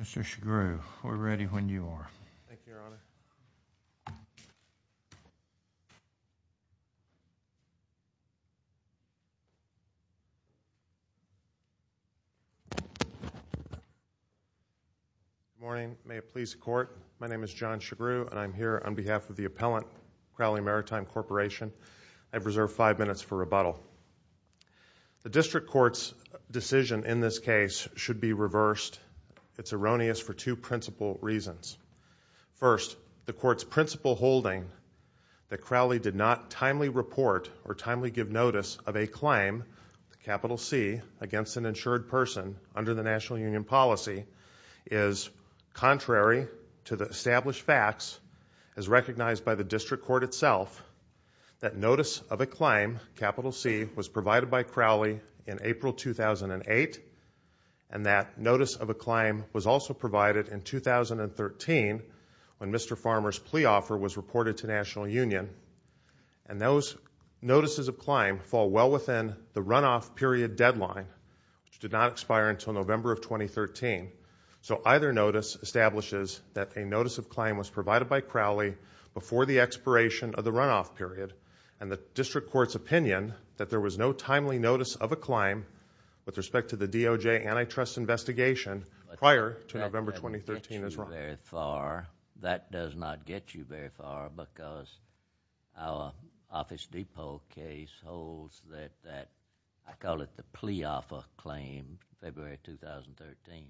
Mr. Chigroux, we're ready when you are. Thank you, Your Honor. Good morning. May it please the Court, my name is John Chigroux and I'm here on behalf of the appellant, Crowley Maritime Corporation. The District Court's decision in this case should be reversed. It's erroneous for two principal reasons. First, the Court's principal holding that Crowley did not timely report or timely give notice of a claim, capital C, against an insured person under the National Union policy is contrary to the established facts as recognized by the District Court itself that notice of a claim, capital C, was provided by Crowley in April 2008 and that notice of a claim was also provided in 2013 when Mr. Farmer's plea offer was reported to National Union. And those notices of claim fall well within the runoff period deadline, which did not expire until November of 2013. So either notice establishes that a notice of claim was provided by Crowley before the expiration of the runoff period and the District Court's opinion that there was no timely notice of a claim with respect to the DOJ antitrust investigation prior to November 2013 is wrong. That does not get you very far because our Office Depot case holds that I call it the plea offer claim February 2013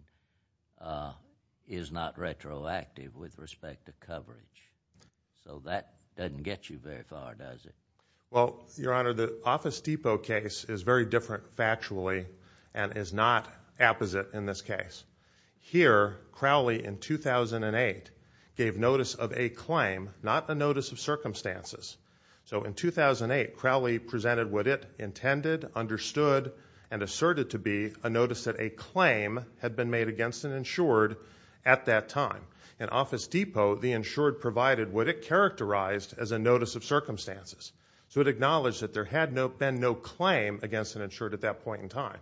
is not retroactive with respect to coverage. So that doesn't get you very far, does it? Well, Your Honor, the Office Depot case is very different factually and is not apposite in this case. Here, Crowley in 2008 gave notice of a claim, not a notice of circumstances. So in 2008, Crowley presented what it intended, understood, and asserted to be a notice that a claim had been made against an insured at that time. In Office Depot, the insured provided what it characterized as a notice of circumstances. So it acknowledged that there had been no claim against an insured at that point in time.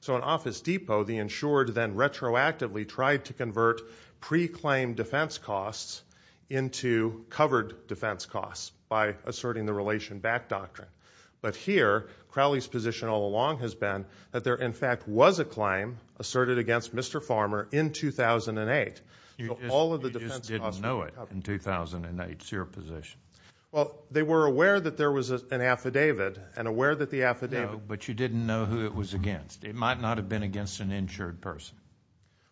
So in Office Depot, the insured then retroactively tried to convert pre-claimed defense costs into covered defense costs by asserting the Relation Back Doctrine. But here, Crowley's position all along has been that there in fact was a claim asserted against Mr. Farmer in 2008. You just didn't know it in 2008. It's your position. Well, they were aware that there was an affidavit and aware that the affidavit No, but you didn't know who it was against. It might not have been against an insured person.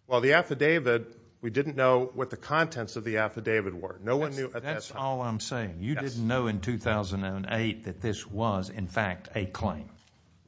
Well, the affidavit, we didn't know what the contents of the affidavit were. No one knew at that time. That's all I'm saying. You didn't know in 2008 that this was in fact a claim.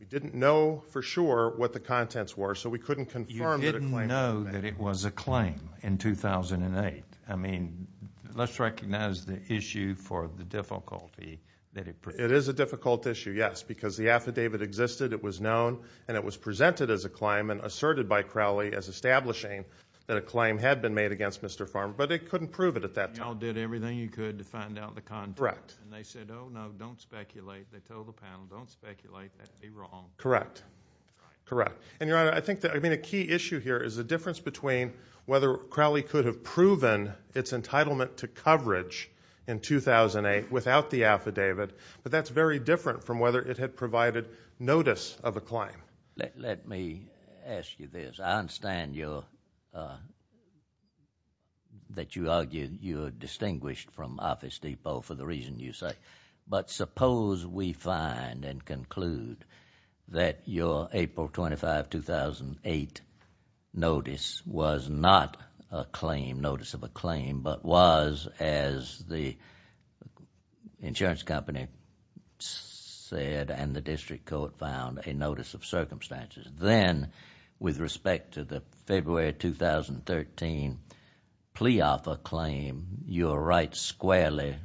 We didn't know for sure what the contents were, so we couldn't confirm that it was a claim. You didn't know that it was a claim in 2008. I mean, let's recognize the issue for the difficulty that it presents. It is a difficult issue, yes, because the affidavit existed, it was known, and it was presented as a claim and asserted by Crowley as establishing that a claim had been made against Mr. Farmer. But they couldn't prove it at that time. Y'all did everything you could to find out the content. Correct. And they said, oh, no, don't speculate. They told the panel, don't speculate. That'd be wrong. Correct. Correct. And, Your Honor, I think that, I mean, a key issue here is the difference between whether Crowley could have proven its entitlement to coverage in 2008 without the affidavit, but that's very different from whether it had provided notice of a claim. Let me ask you this. I understand that you argue you're distinguished from Office Depot for the reason you say. But suppose we find and conclude that your April 25, 2008 notice was not a claim, notice of a claim, but was, as the insurance company said and the district court found, a notice of circumstances. Then, with respect to the February 2013 plea offer claim, you're right squarely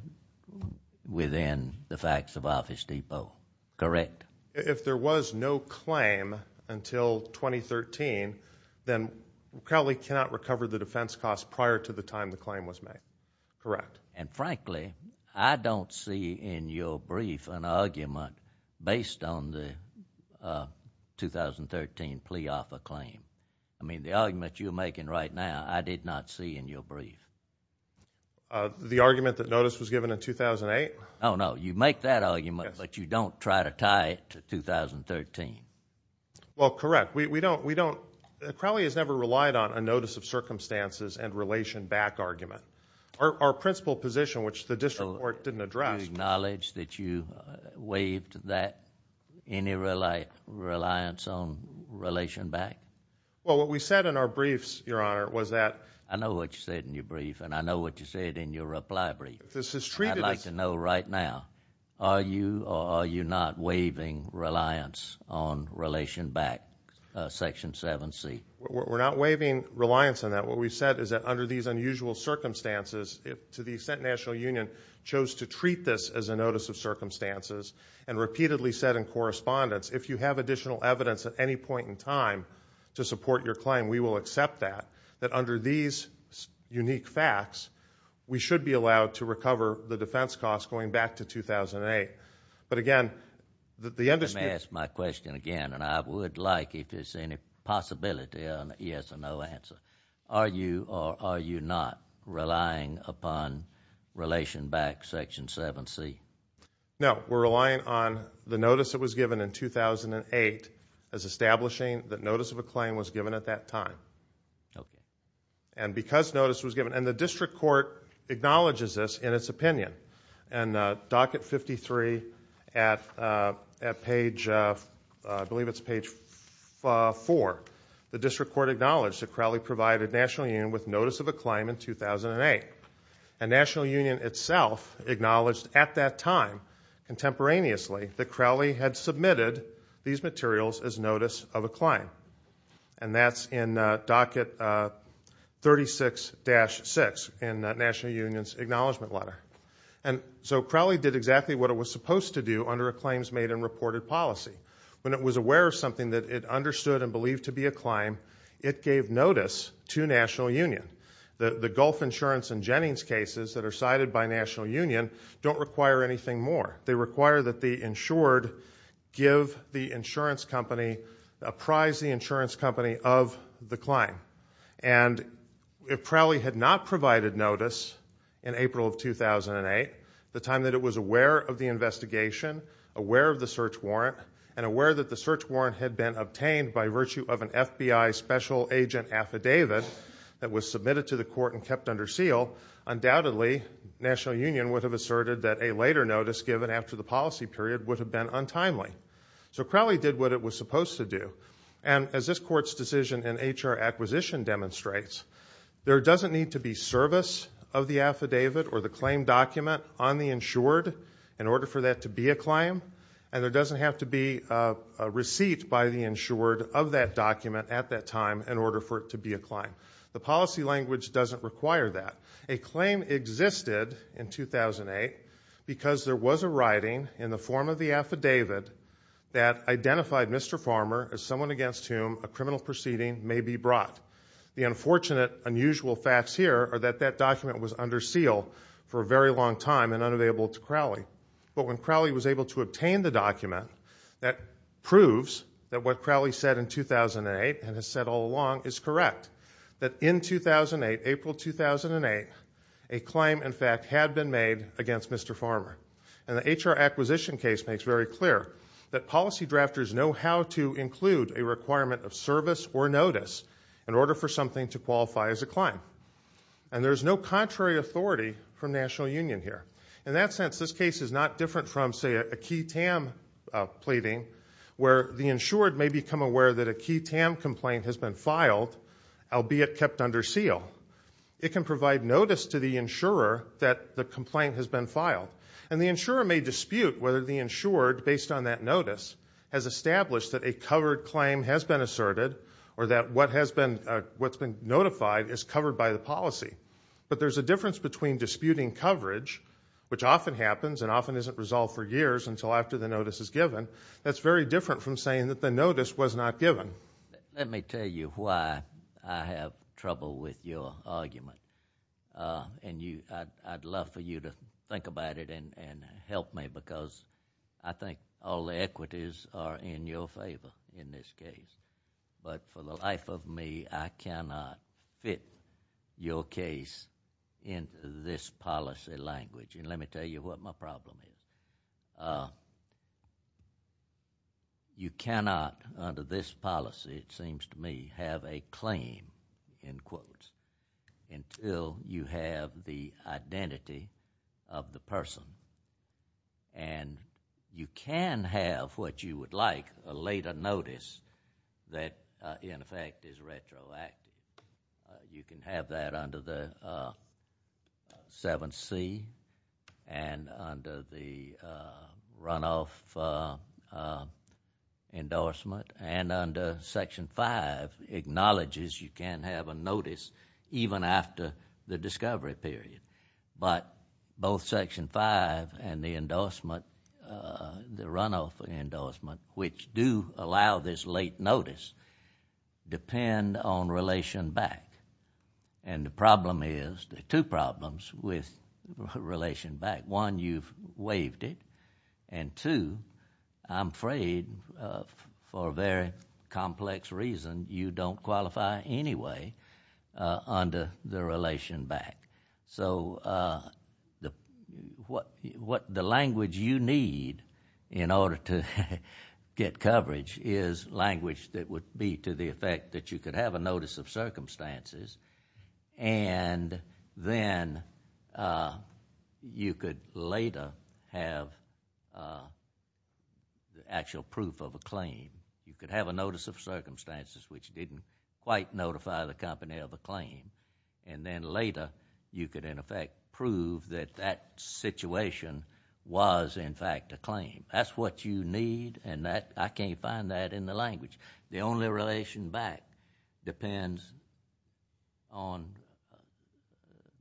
within the facts of Office Depot. Correct? If there was no claim until 2013, then Crowley cannot recover the defense costs prior to the time the claim was made. Correct. And, frankly, I don't see in your brief an argument based on the 2013 plea offer claim. I mean, the argument you're making right now, I did not see in your brief. The argument that notice was given in 2008? Oh, no. You make that argument, but you don't try to tie it to 2013. Well, correct. We don't. Crowley has never relied on a notice of circumstances and relation back argument. Our principal position, which the district court didn't address. So you acknowledge that you waived that, any reliance on relation back? Well, what we said in our briefs, Your Honor, was that... I know what you said in your brief, and I know what you said in your reply brief. This is treated as... I'd like to know right now, are you or are you not waiving reliance on relation back, Section 7C? We're not waiving reliance on that. What we've said is that under these unusual circumstances, to the extent National Union chose to treat this as a notice of circumstances and repeatedly said in correspondence, if you have additional evidence at any point in time to support your claim, we will accept that, that under these unique facts, we should be allowed to recover the defense costs going back to 2008. But, again, the industry... Let me ask my question again, and I would like, if there's any possibility, yes or no answer. Are you or are you not relying upon relation back, Section 7C? No. We're relying on the notice that was given in 2008 as establishing that notice of a claim was given at that time. Okay. And because notice was given... And the district court acknowledges this in its opinion. And docket 53 at page, I believe it's page 4, the district court acknowledged that Crowley provided National Union with notice of a claim in 2008. And National Union itself acknowledged at that time, contemporaneously, that Crowley had submitted these materials as notice of a claim. And that's in docket 36-6 in National Union's acknowledgment letter. And so Crowley did exactly what it was supposed to do under a claims made and reported policy. When it was aware of something that it understood and believed to be a claim, it gave notice to National Union. The Gulf insurance and Jennings cases that are cited by National Union don't require anything more. They require that the insured give the insurance company, apprise the insurance company of the claim. And if Crowley had not provided notice in April of 2008, the time that it was aware of the investigation, aware of the search warrant, and aware that the search warrant had been obtained by virtue of an FBI special agent affidavit that was submitted to the court and kept under seal, undoubtedly National Union would have asserted that a later notice given after the policy period would have been untimely. So Crowley did what it was supposed to do. And as this Court's decision in H.R. Acquisition demonstrates, there doesn't need to be service of the affidavit or the claim document on the insured in order for that to be a claim, and there doesn't have to be a receipt by the insured of that document at that time in order for it to be a claim. The policy language doesn't require that. A claim existed in 2008 because there was a writing in the form of the affidavit that identified Mr. Farmer as someone against whom a criminal proceeding may be brought. The unfortunate, unusual facts here are that that document was under seal for a very long time and unavailable to Crowley. But when Crowley was able to obtain the document, that proves that what Crowley said in 2008 and has said all along is correct, that in 2008, April 2008, a claim, in fact, had been made against Mr. Farmer. And the H.R. Acquisition case makes very clear that policy drafters know how to include a requirement of service or notice in order for something to qualify as a claim. And there's no contrary authority from National Union here. In that sense, this case is not different from, say, a key TAM pleading where the insured may become aware that a key TAM complaint has been filed albeit kept under seal. It can provide notice to the insurer that the complaint has been filed. And the insurer may dispute whether the insured, based on that notice, has established that a covered claim has been asserted or that what's been notified is covered by the policy. But there's a difference between disputing coverage, which often happens and often isn't resolved for years until after the notice is given, that's very different from saying that the notice was not given. Let me tell you why I have trouble with your argument. And I'd love for you to think about it and help me because I think all the equities are in your favor in this case. But for the life of me, I cannot fit your case into this policy language. And let me tell you what my problem is. You cannot, under this policy, it seems to me, have a claim, in quotes, until you have the identity of the person. And you can have what you would like a later notice that, in effect, is retroactive. You can have that under the 7C and under the runoff endorsement. And under Section 5 acknowledges you can have a notice even after the discovery period. But both Section 5 and the endorsement, the runoff endorsement, which do allow this late notice, depend on relation back. And the problem is, there are two problems with relation back. One, you've waived it. And two, I'm afraid, for a very complex reason, you don't qualify anyway under the relation back. So the language you need in order to get coverage is language that would be to the effect that you could have a notice of circumstances and then you could later have the actual proof of a claim. You could have a notice of circumstances which didn't quite notify the company of a claim. And then later you could, in effect, prove that that situation was, in fact, a claim. That's what you need, and I can't find that in the language. The only relation back depends on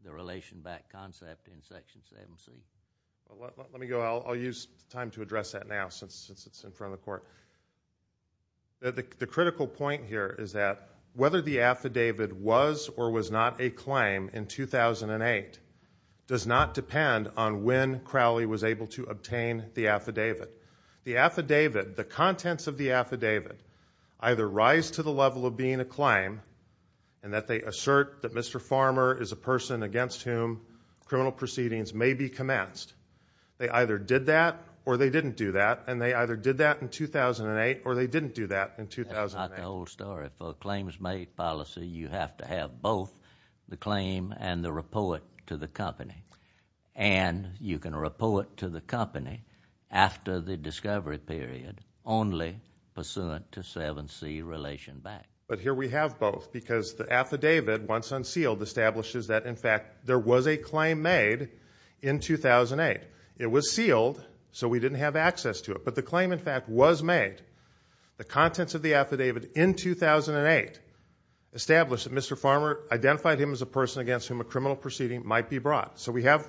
the relation back concept in Section 7C. Let me go. I'll use time to address that now since it's in front of the court. The critical point here is that whether the affidavit was or was not a claim in 2008 does not depend on when Crowley was able to obtain the affidavit. The contents of the affidavit either rise to the level of being a claim and that they assert that Mr. Farmer is a person against whom criminal proceedings may be commenced. They either did that or they didn't do that, and they either did that in 2008 or they didn't do that in 2008. That's not the whole story. For a claims-made policy, you have to have both the claim and the report to the company. And you can report to the company after the discovery period only pursuant to 7C relation back. But here we have both because the affidavit, once unsealed, establishes that, in fact, there was a claim made in 2008. It was sealed, so we didn't have access to it. But the claim, in fact, was made. The contents of the affidavit in 2008 establish that Mr. Farmer identified him as a person against whom a criminal proceeding might be brought. So we have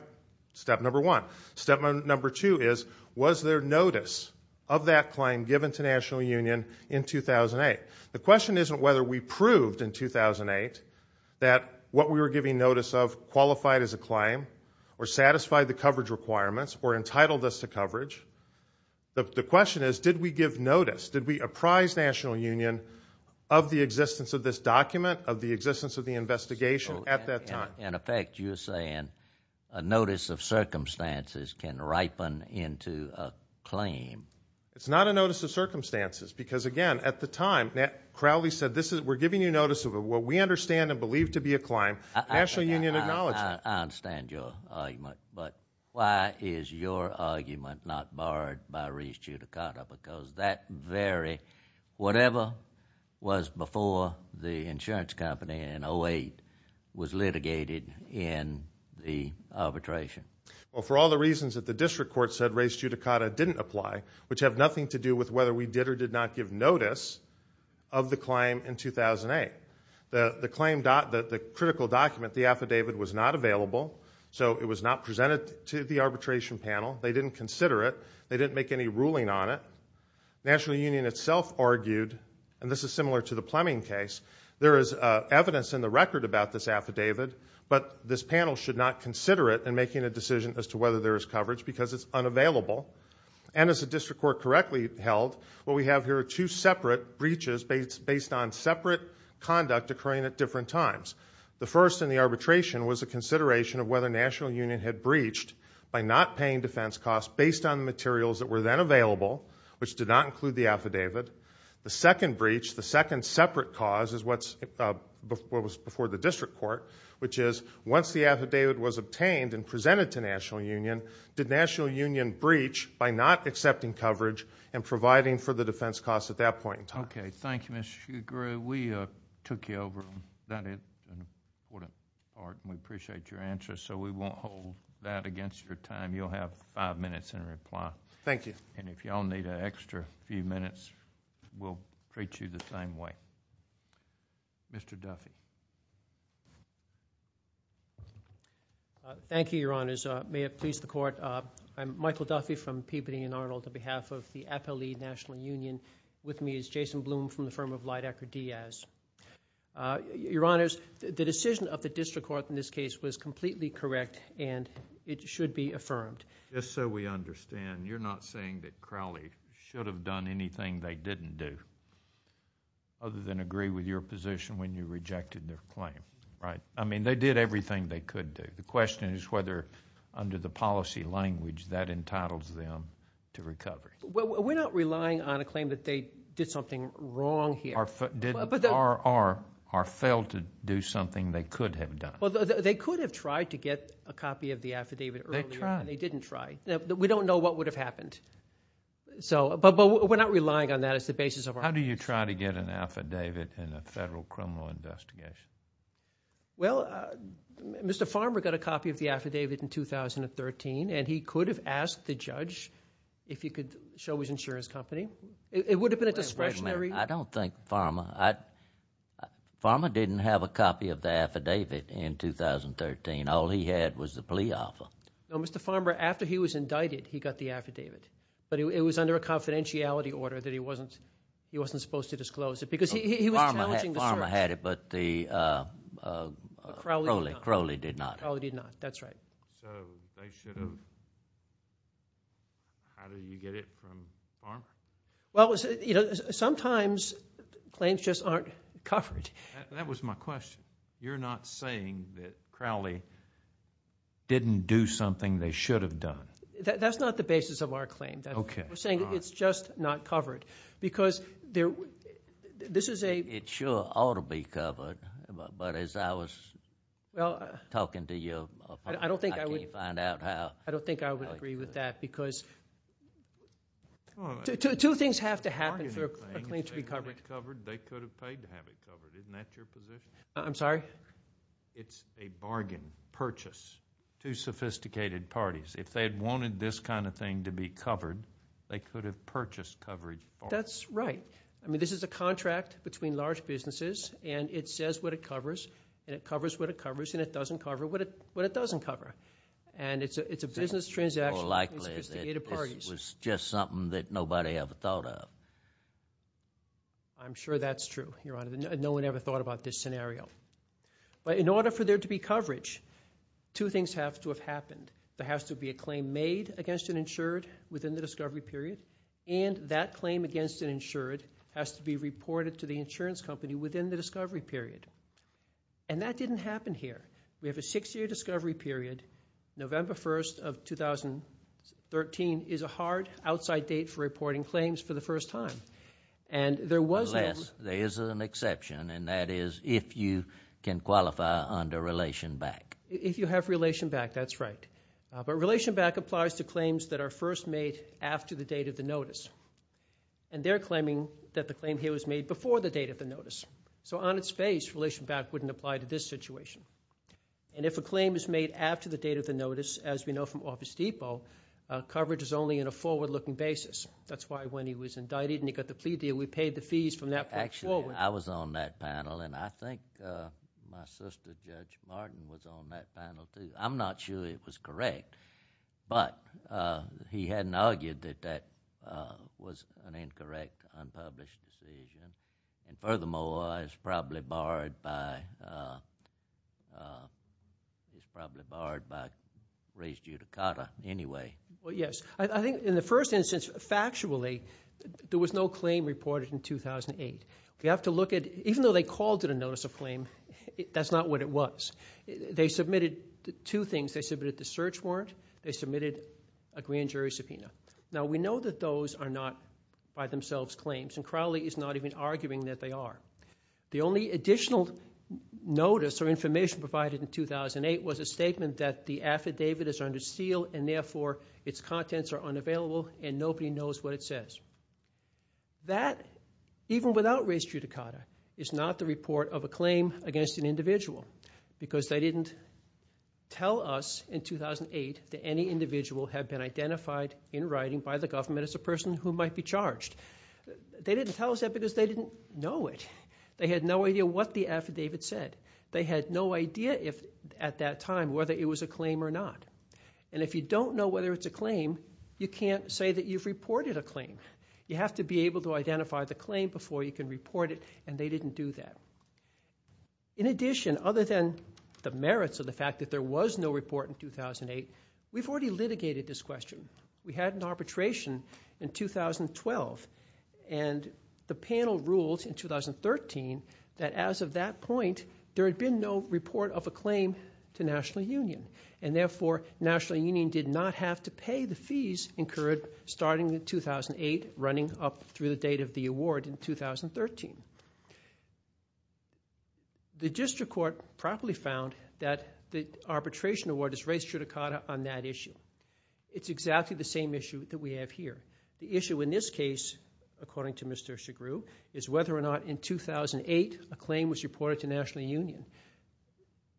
step number one. Step number two is was there notice of that claim given to National Union in 2008? The question isn't whether we proved in 2008 that what we were giving notice of qualified as a claim or satisfied the coverage requirements or entitled us to coverage. The question is did we give notice, did we apprise National Union of the existence of this document, of the existence of the investigation at that time? In effect, you're saying a notice of circumstances can ripen into a claim. It's not a notice of circumstances because, again, at the time, Crowley said we're giving you notice of what we understand and believe to be a claim. National Union acknowledged it. I understand your argument, but why is your argument not barred by res judicata? Because that very whatever was before the insurance company in 2008 was litigated in the arbitration. Well, for all the reasons that the district court said, res judicata didn't apply, which have nothing to do with whether we did or did not give notice of the claim in 2008. The claim, the critical document, the affidavit was not available, so it was not presented to the arbitration panel. They didn't consider it. They didn't make any ruling on it. National Union itself argued, and this is similar to the Plemming case, there is evidence in the record about this affidavit, but this panel should not consider it in making a decision as to whether there is coverage because it's unavailable. And as the district court correctly held, what we have here are two separate breaches based on separate conduct occurring at different times. The first in the arbitration was a consideration of whether National Union had breached by not paying defense costs based on materials that were then available, which did not include the affidavit. The second breach, the second separate cause is what was before the district court, which is once the affidavit was obtained and presented to National Union, did National Union breach by not accepting coverage and providing for the defense costs at that point in time? Okay, thank you, Mr. Shugrue. We took you over on that important part, and we appreciate your answer, so we won't hold that against your time. You'll have five minutes in reply. Thank you. And if you all need an extra few minutes, we'll treat you the same way. Mr. Duffy. Thank you, Your Honors. May it please the Court, I'm Michael Duffy from Peabody and Arnold, on behalf of the Appellee National Union. With me is Jason Bloom from the firm of Leidecker Diaz. Your Honors, the decision of the district court in this case was completely correct, and it should be affirmed. Just so we understand, you're not saying that Crowley should have done anything they didn't do other than agree with your position when you rejected their claim, right? I mean, they did everything they could do. The question is whether, under the policy language, that entitles them to recovery. We're not relying on a claim that they did something wrong here. Or failed to do something they could have done. They could have tried to get a copy of the affidavit earlier. They didn't try. They didn't try. We don't know what would have happened. But we're not relying on that as the basis of our argument. How do you try to get an affidavit in a federal criminal investigation? Well, Mr. Farmer got a copy of the affidavit in 2013, and he could have asked the judge if he could show his insurance company. It would have been a discretionary. Wait a minute. I don't think Farmer. Farmer didn't have a copy of the affidavit in 2013. All he had was the plea offer. No, Mr. Farmer, after he was indicted, he got the affidavit. But it was under a confidentiality order that he wasn't supposed to disclose it. Because he was challenging the search. Farmer had it, but Crowley did not. Crowley did not. That's right. So they should have... How do you get it from Farmer? Well, sometimes claims just aren't covered. That was my question. You're not saying that Crowley didn't do something they should have done? That's not the basis of our claim. We're saying it's just not covered. Because this is a... It sure ought to be covered. But as I was talking to you, I can't find out how. I don't think I would agree with that because two things have to happen for a claim to be covered. They could have paid to have it covered. Isn't that your position? I'm sorry? It's a bargain purchase to sophisticated parties. If they had wanted this kind of thing to be covered, they could have purchased coverage for it. That's right. I mean, this is a contract between large businesses, and it says what it covers, and it covers what it covers, and it doesn't cover what it doesn't cover. And it's a business transaction. It's more likely that this was just something that nobody ever thought of. I'm sure that's true, Your Honor. No one ever thought about this scenario. But in order for there to be coverage, two things have to have happened. There has to be a claim made against an insured within the discovery period, and that claim against an insured has to be reported to the insurance company within the discovery period. And that didn't happen here. We have a six-year discovery period. November 1st of 2013 is a hard outside date for reporting claims for the first time. Unless there is an exception, and that is if you can qualify under Relation Back. If you have Relation Back, that's right. But Relation Back applies to claims that are first made after the date of the notice. And they're claiming that the claim here was made before the date of the notice. So on its face, Relation Back wouldn't apply to this situation. And if a claim is made after the date of the notice, as we know from Office Depot, coverage is only in a forward-looking basis. That's why when he was indicted and he got the plea deal, we paid the fees from that point forward. Actually, I was on that panel, and I think my sister, Judge Martin, was on that panel too. I'm not sure it was correct, but he hadn't argued that that was an incorrect, unpublished decision. And furthermore, it was probably barred by race judicata anyway. Well, yes. I think in the first instance, factually, there was no claim reported in 2008. We have to look at it. Even though they called it a notice of claim, that's not what it was. They submitted two things. They submitted the search warrant. They submitted a grand jury subpoena. Now, we know that those are not by themselves claims, and Crowley is not even arguing that they are. The only additional notice or information provided in 2008 was a statement that the affidavit is under seal and therefore its contents are unavailable and nobody knows what it says. That, even without race judicata, is not the report of a claim against an individual because they didn't tell us in 2008 that any individual had been identified in writing by the government as a person who might be charged. They didn't tell us that because they didn't know it. They had no idea what the affidavit said. They had no idea at that time whether it was a claim or not. And if you don't know whether it's a claim, you can't say that you've reported a claim. You have to be able to identify the claim before you can report it, and they didn't do that. In addition, other than the merits of the fact that there was no report in 2008, we've already litigated this question. We had an arbitration in 2012, and the panel ruled in 2013 that as of that point, there had been no report of a claim to National Union, and therefore National Union did not have to pay the fees incurred starting in 2008, running up through the date of the award in 2013. The district court properly found that the arbitration award is race judicata on that issue. It's exactly the same issue that we have here. The issue in this case, according to Mr. Chigroux, is whether or not in 2008 a claim was reported to National Union.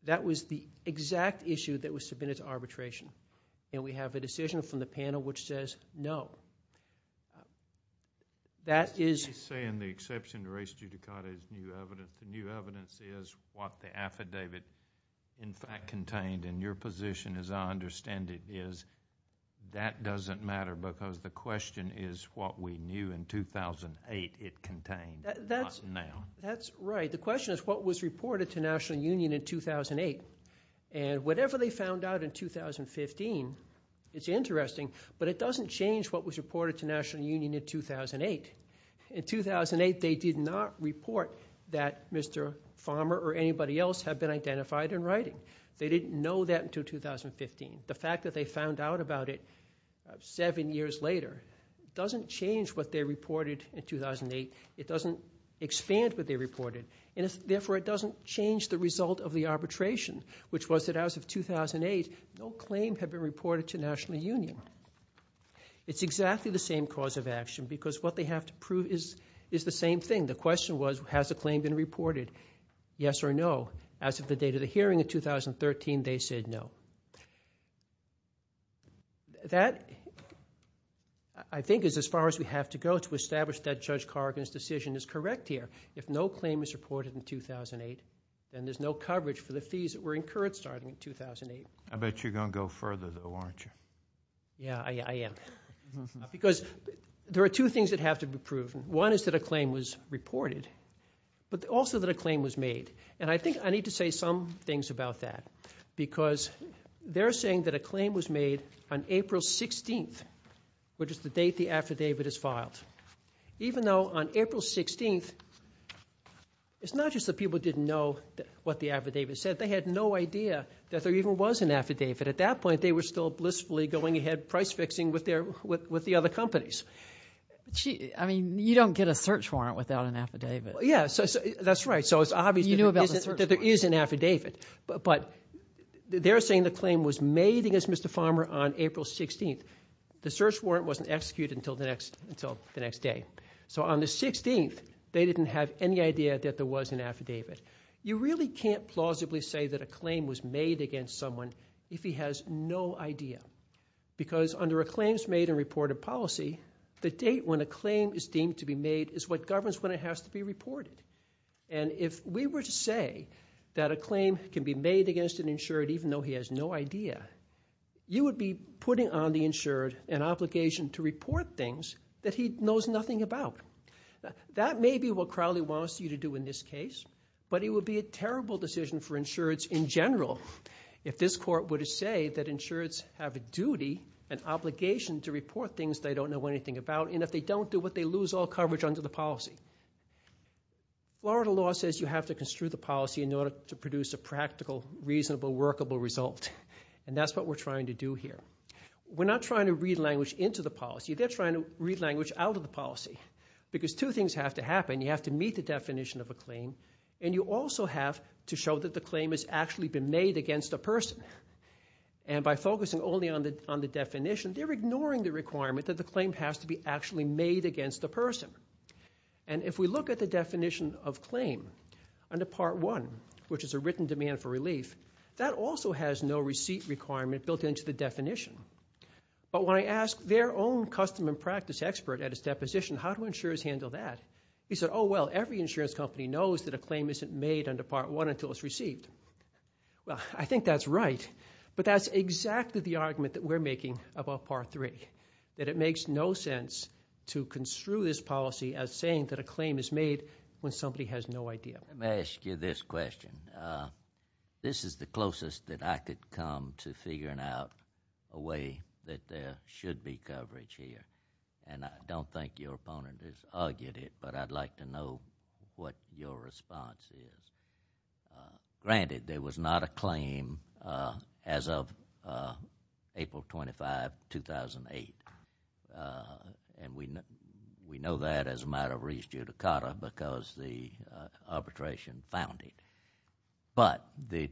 That was the exact issue that was submitted to arbitration, and we have a decision from the panel which says no. That is saying the exception to race judicata is new evidence. The new evidence is what the affidavit in fact contained. And your position, as I understand it, is that doesn't matter because the question is what we knew in 2008 it contained, not now. That's right. The question is what was reported to National Union in 2008. And whatever they found out in 2015, it's interesting, but it doesn't change what was reported to National Union in 2008. In 2008, they did not report that Mr. Farmer or anybody else had been identified in writing. They didn't know that until 2015. The fact that they found out about it seven years later doesn't change what they reported in 2008. It doesn't expand what they reported, and therefore it doesn't change the result of the arbitration, which was that as of 2008, no claim had been reported to National Union. It's exactly the same cause of action because what they have to prove is the same thing. The question was has a claim been reported, yes or no. As of the date of the hearing in 2013, they said no. That, I think, is as far as we have to go to establish that Judge Cargan's decision is correct here. If no claim is reported in 2008, then there's no coverage for the fees that were incurred starting in 2008. I bet you're going to go further, though, aren't you? Yeah, I am. Because there are two things that have to be proven. One is that a claim was reported, but also that a claim was made. And I think I need to say some things about that because they're saying that a claim was made on April 16th, which is the date the affidavit is filed. Even though on April 16th, it's not just that people didn't know what the affidavit said. They had no idea that there even was an affidavit. At that point, they were still blissfully going ahead price-fixing with the other companies. I mean, you don't get a search warrant without an affidavit. Yeah, that's right. So it's obvious that there is an affidavit. But they're saying the claim was made against Mr. Farmer on April 16th. The search warrant wasn't executed until the next day. So on the 16th, they didn't have any idea that there was an affidavit. You really can't plausibly say that a claim was made against someone if he has no idea. Because under a claims-made and reported policy, the date when a claim is deemed to be made is what governs when it has to be reported. And if we were to say that a claim can be made against an insured even though he has no idea, you would be putting on the insured an obligation to report things that he knows nothing about. That may be what Crowley wants you to do in this case, but it would be a terrible decision for insureds in general if this court were to say that insureds have a duty and obligation to report things they don't know anything about and if they don't do it, they lose all coverage under the policy. Florida law says you have to construe the policy in order to produce a practical, reasonable, workable result. And that's what we're trying to do here. We're not trying to read language into the policy. They're trying to read language out of the policy. Because two things have to happen. You have to meet the definition of a claim, and you also have to show that the claim has actually been made against a person. And by focusing only on the definition, they're ignoring the requirement that the claim has to be actually made against a person. And if we look at the definition of claim under Part 1, which is a written demand for relief, that also has no receipt requirement built into the definition. But when I asked their own custom and practice expert at his deposition how do insurers handle that, he said, oh, well, every insurance company knows that a claim isn't made under Part 1 until it's received. Well, I think that's right, but that's exactly the argument that we're making about Part 3, that it makes no sense to construe this policy as saying that a claim is made when somebody has no idea. Let me ask you this question. This is the closest that I could come to figuring out a way that there should be coverage here. And I don't think your opponent has argued it, but I'd like to know what your response is. Granted, there was not a claim as of April 25, 2008, and we know that as a matter of res judicata because the arbitration found it. But the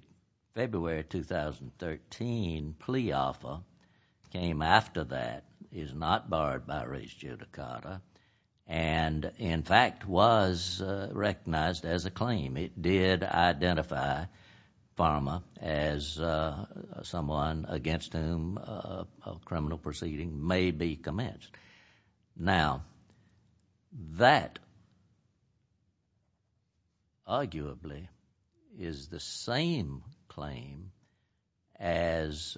February 2013 plea offer came after that, is not barred by res judicata, and in fact was recognized as a claim. It did identify Pharma as someone against whom a criminal proceeding may be commenced. Now, that arguably is the same claim as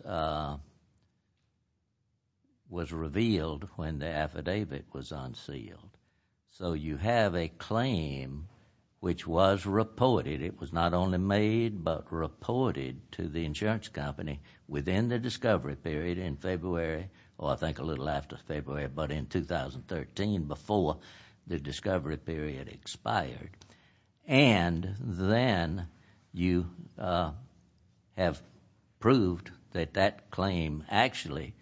was revealed when the affidavit was unsealed. So you have a claim which was reported. It was not only made, but reported to the insurance company within the discovery period in February, or I think a little after February, but in 2013 before the discovery period expired. And then you have proved that that claim actually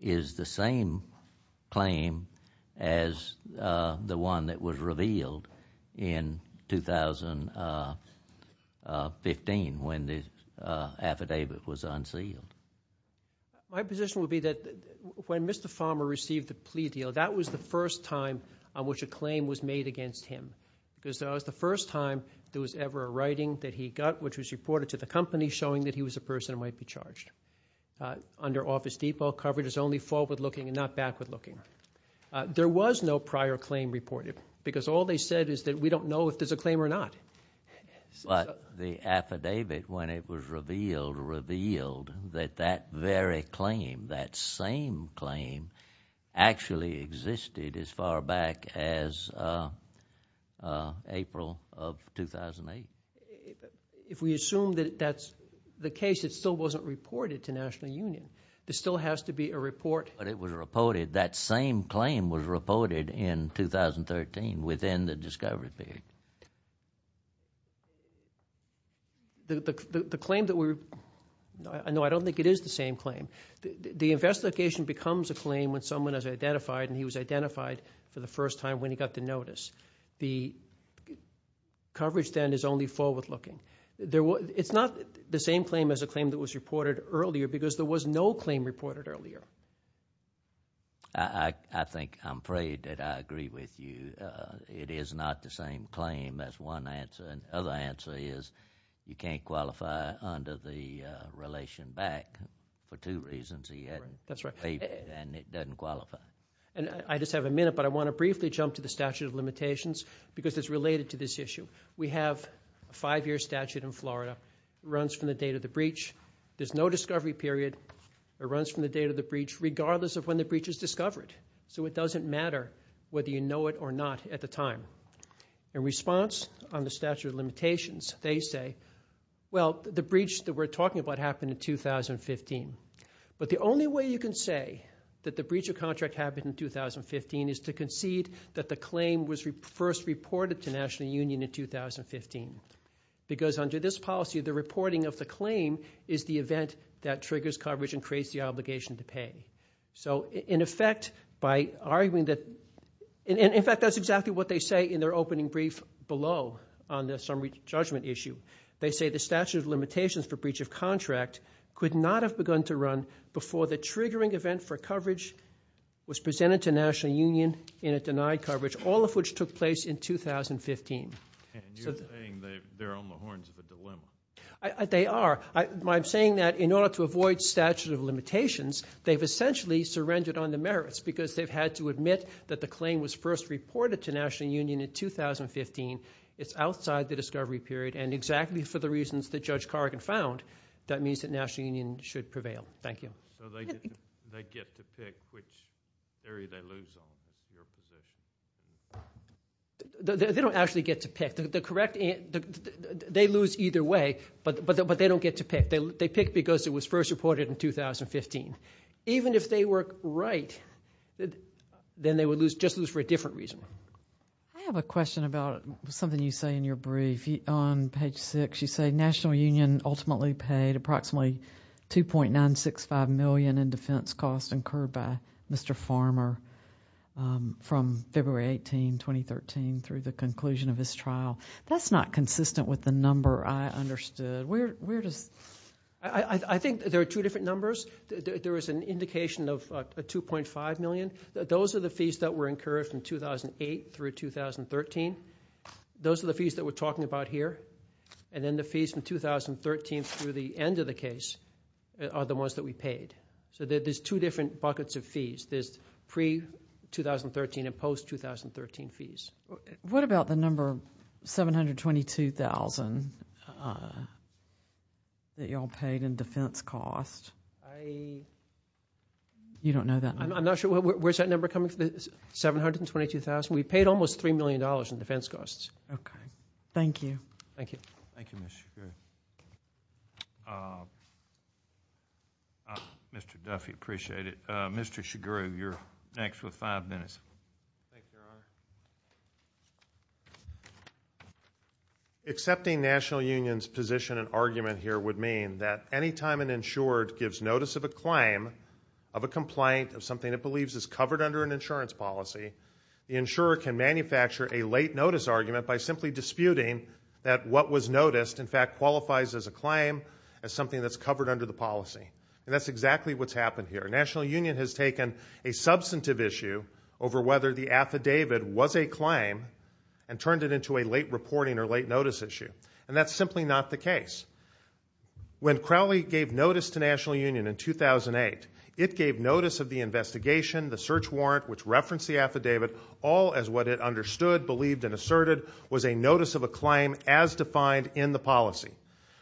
is the same claim as the one that was revealed in 2015 when the affidavit was unsealed. My position would be that when Mr. Pharma received the plea deal, that was the first time on which a claim was made against him because that was the first time there was ever a writing that he got which was reported to the company showing that he was a person who might be charged. Under Office Depot, coverage is only forward-looking and not backward-looking. There was no prior claim reported because all they said is that we don't know if there's a claim or not. But the affidavit, when it was revealed, revealed that that very claim, that same claim, actually existed as far back as April of 2008. If we assume that that's the case, it still wasn't reported to National Union. There still has to be a report. But it was reported, that same claim was reported in 2013 within the discovery period. The claim that we're, no, I don't think it is the same claim. The investigation becomes a claim when someone is identified and he was identified for the first time when he got the notice. The coverage then is only forward-looking. It's not the same claim as a claim that was reported earlier because there was no claim reported earlier. I think, I'm afraid that I agree with you. It is not the same claim as one answer. And the other answer is you can't qualify under the relation back for two reasons. That's right. And it doesn't qualify. And I just have a minute, but I want to briefly jump to the statute of limitations because it's related to this issue. We have a five-year statute in Florida. It runs from the date of the breach. There's no discovery period. It runs from the date of the breach regardless of when the breach is discovered. So it doesn't matter whether you know it or not at the time. In response on the statute of limitations, they say, well, the breach that we're talking about happened in 2015. But the only way you can say that the breach of contract happened in 2015 is to concede that the claim was first reported to National Union in 2015. Because under this policy, the reporting of the claim is the event that triggers coverage and creates the obligation to pay. So in effect, by arguing that, in fact, that's exactly what they say in their opening brief below on the summary judgment issue. They say the statute of limitations for breach of contract could not have begun to run before the triggering event for coverage was presented to National Union in a denied coverage, all of which took place in 2015. And you're saying they're on the horns of a dilemma. They are. I'm saying that in order to avoid statute of limitations, they've essentially surrendered on the merits because they've had to admit that the claim was first reported to National Union in 2015. It's outside the discovery period. And exactly for the reasons that Judge Cargan found, that means that National Union should prevail. Thank you. So they get to pick which area they lose on is your position. They don't actually get to pick. They lose either way, but they don't get to pick. They pick because it was first reported in 2015. Even if they were right, then they would just lose for a different reason. I have a question about something you say in your brief. On page 6, you say National Union ultimately paid approximately $2.965 million in defense costs incurred by Mr. Farmer from February 18, 2013, through the conclusion of his trial. That's not consistent with the number I understood. Where does— I think there are two different numbers. There is an indication of $2.5 million. Those are the fees that were incurred from 2008 through 2013. Those are the fees that we're talking about here. And then the fees from 2013 through the end of the case are the ones that we paid. So there's two different buckets of fees. There's pre-2013 and post-2013 fees. What about the number $722,000 that you all paid in defense costs? I— You don't know that number? I'm not sure. Where's that number coming from? $722,000. We paid almost $3 million in defense costs. Okay. Thank you. Thank you, Ms. Shugrue. Mr. Duffy, appreciate it. Mr. Shugrue, you're next with five minutes. Thank you, Your Honor. Accepting National Union's position and argument here would mean that any time an insured gives notice of a claim, of a complaint, of something it believes is covered under an insurance policy, the insurer can manufacture a late-notice argument by simply disputing that what was noticed, in fact, qualifies as a claim, as something that's covered under the policy. And that's exactly what's happened here. National Union has taken a substantive issue over whether the affidavit was a claim and turned it into a late-reporting or late-notice issue. And that's simply not the case. When Crowley gave notice to National Union in 2008, it gave notice of the investigation, the search warrant, which referenced the affidavit, all as what it understood, believed, and asserted was a notice of a claim as defined in the policy.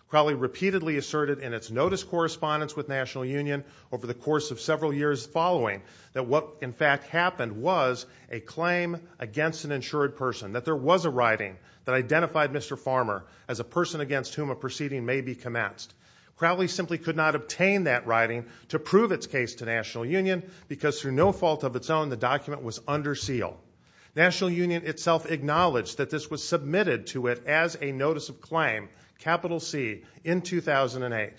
Crowley repeatedly asserted in its notice correspondence with National Union over the course of several years following that what, in fact, happened was a claim against an insured person, that there was a writing that identified Mr. Farmer as a person against whom a proceeding may be commenced. Crowley simply could not obtain that writing to prove its case to National Union because, through no fault of its own, the document was under seal. National Union itself acknowledged that this was submitted to it as a notice of claim, capital C, in 2008.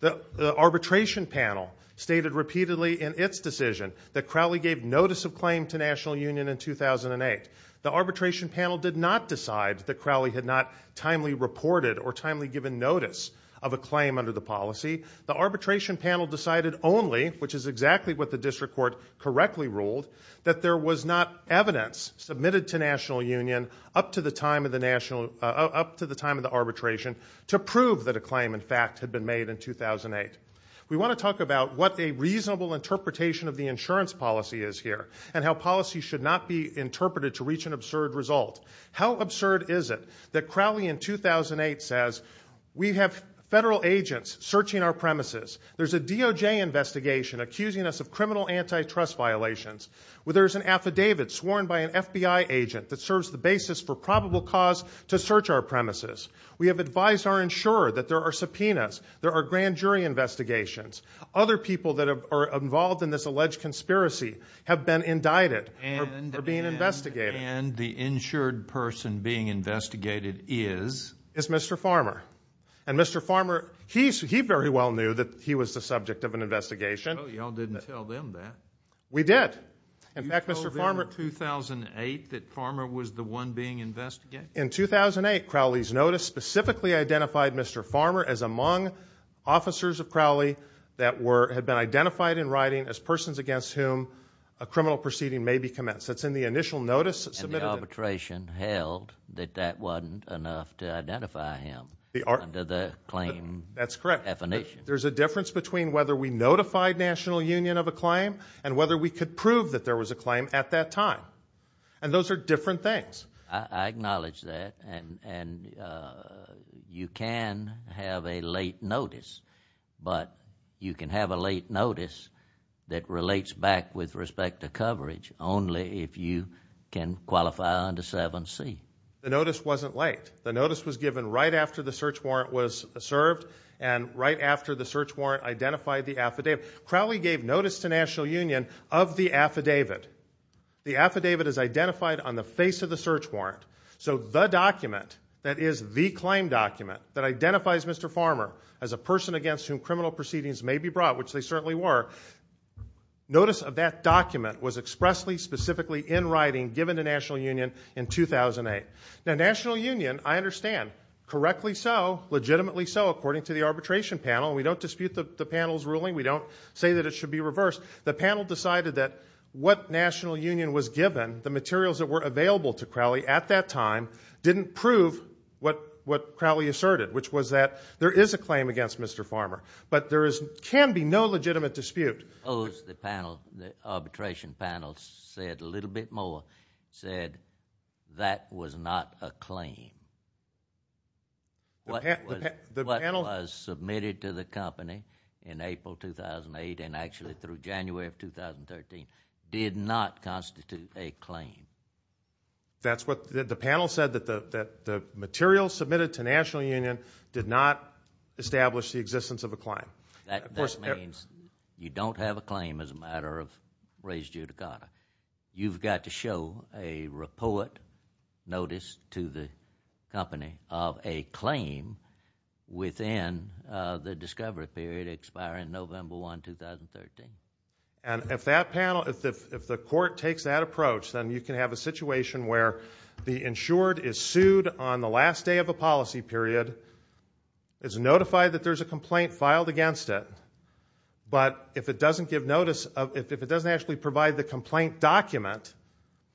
The arbitration panel stated repeatedly in its decision that Crowley gave notice of claim to National Union in 2008. The arbitration panel did not decide that Crowley had not timely reported or timely given notice of a claim under the policy. The arbitration panel decided only, which is exactly what the district court correctly ruled, that there was not evidence submitted to National Union up to the time of the arbitration to prove that a claim, in fact, had been made in 2008. We want to talk about what a reasonable interpretation of the insurance policy is here and how policy should not be interpreted to reach an absurd result. How absurd is it that Crowley in 2008 says, we have federal agents searching our premises, there's a DOJ investigation accusing us of criminal antitrust violations, there's an affidavit sworn by an FBI agent that serves the basis for probable cause to search our premises, we have advised our insurer that there are subpoenas, there are grand jury investigations, other people that are involved in this alleged conspiracy have been indicted for being investigated. And the insured person being investigated is? Is Mr. Farmer. And Mr. Farmer, he very well knew that he was the subject of an investigation. Oh, you all didn't tell them that. We did. You told them in 2008 that Farmer was the one being investigated? In 2008, Crowley's notice specifically identified Mr. Farmer as among officers of Crowley that had been identified in writing as persons against whom a criminal proceeding may be commenced. That's in the initial notice submitted. And the arbitration held that that wasn't enough to identify him under the claim definition. That's correct. There's a difference between whether we notified National Union of a claim and whether we could prove that there was a claim at that time. And those are different things. I acknowledge that. And you can have a late notice, but you can have a late notice that relates back with respect to coverage only if you can qualify under 7C. The notice wasn't late. The notice was given right after the search warrant was served and right after the search warrant identified the affidavit. Crowley gave notice to National Union of the affidavit. The affidavit is identified on the face of the search warrant. So the document that is the claim document that identifies Mr. Farmer as a person against whom criminal proceedings may be brought, which they certainly were, notice of that document was expressly, specifically in writing, given to National Union in 2008. Now National Union, I understand, correctly so, legitimately so, according to the arbitration panel. We don't dispute the panel's ruling. We don't say that it should be reversed. The panel decided that what National Union was given, the materials that were available to Crowley at that time, didn't prove what Crowley asserted, which was that there is a claim against Mr. Farmer, but there can be no legitimate dispute. The panel, the arbitration panel said a little bit more, said that was not a claim. What was submitted to the company in April 2008 and actually through January of 2013 did not constitute a claim. That's what the panel said, that the materials submitted to National Union did not establish the existence of a claim. That means you don't have a claim as a matter of res judicata. You've got to show a report notice to the company of a claim within the discovery period expiring November 1, 2013. And if that panel, if the court takes that approach, then you can have a situation where the insured is sued on the last day of a policy period, is notified that there's a complaint filed against it, but if it doesn't give notice, if it doesn't actually provide the complaint document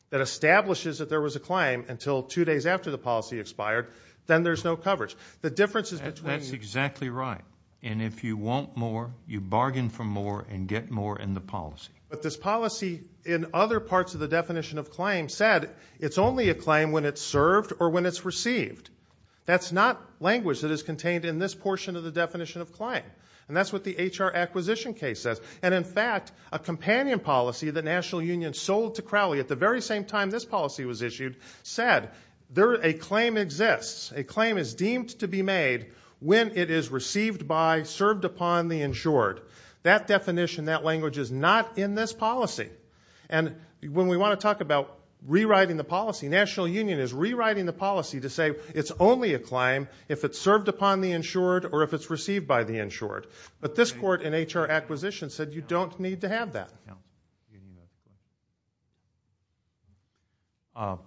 that establishes that there was a claim until two days after the policy expired, then there's no coverage. That's exactly right. And if you want more, you bargain for more and get more in the policy. But this policy in other parts of the definition of claim said it's only a claim when it's served or when it's received. That's not language that is contained in this portion of the definition of claim, and that's what the HR acquisition case says. And in fact, a companion policy that National Union sold to Crowley at the very same time this policy was issued said a claim exists, a claim is deemed to be made when it is received by, served upon the insured. That definition, that language is not in this policy. And when we want to talk about rewriting the policy, National Union is rewriting the policy to say it's only a claim if it's served upon the insured or if it's received by the insured. But this court in HR acquisition said you don't need to have that.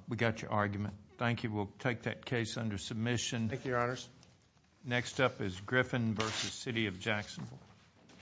We got your argument. Thank you. We'll take that case under submission. Thank you, Your Honors. Next up is Griffin v. City of Jackson. Thank you. Thank you.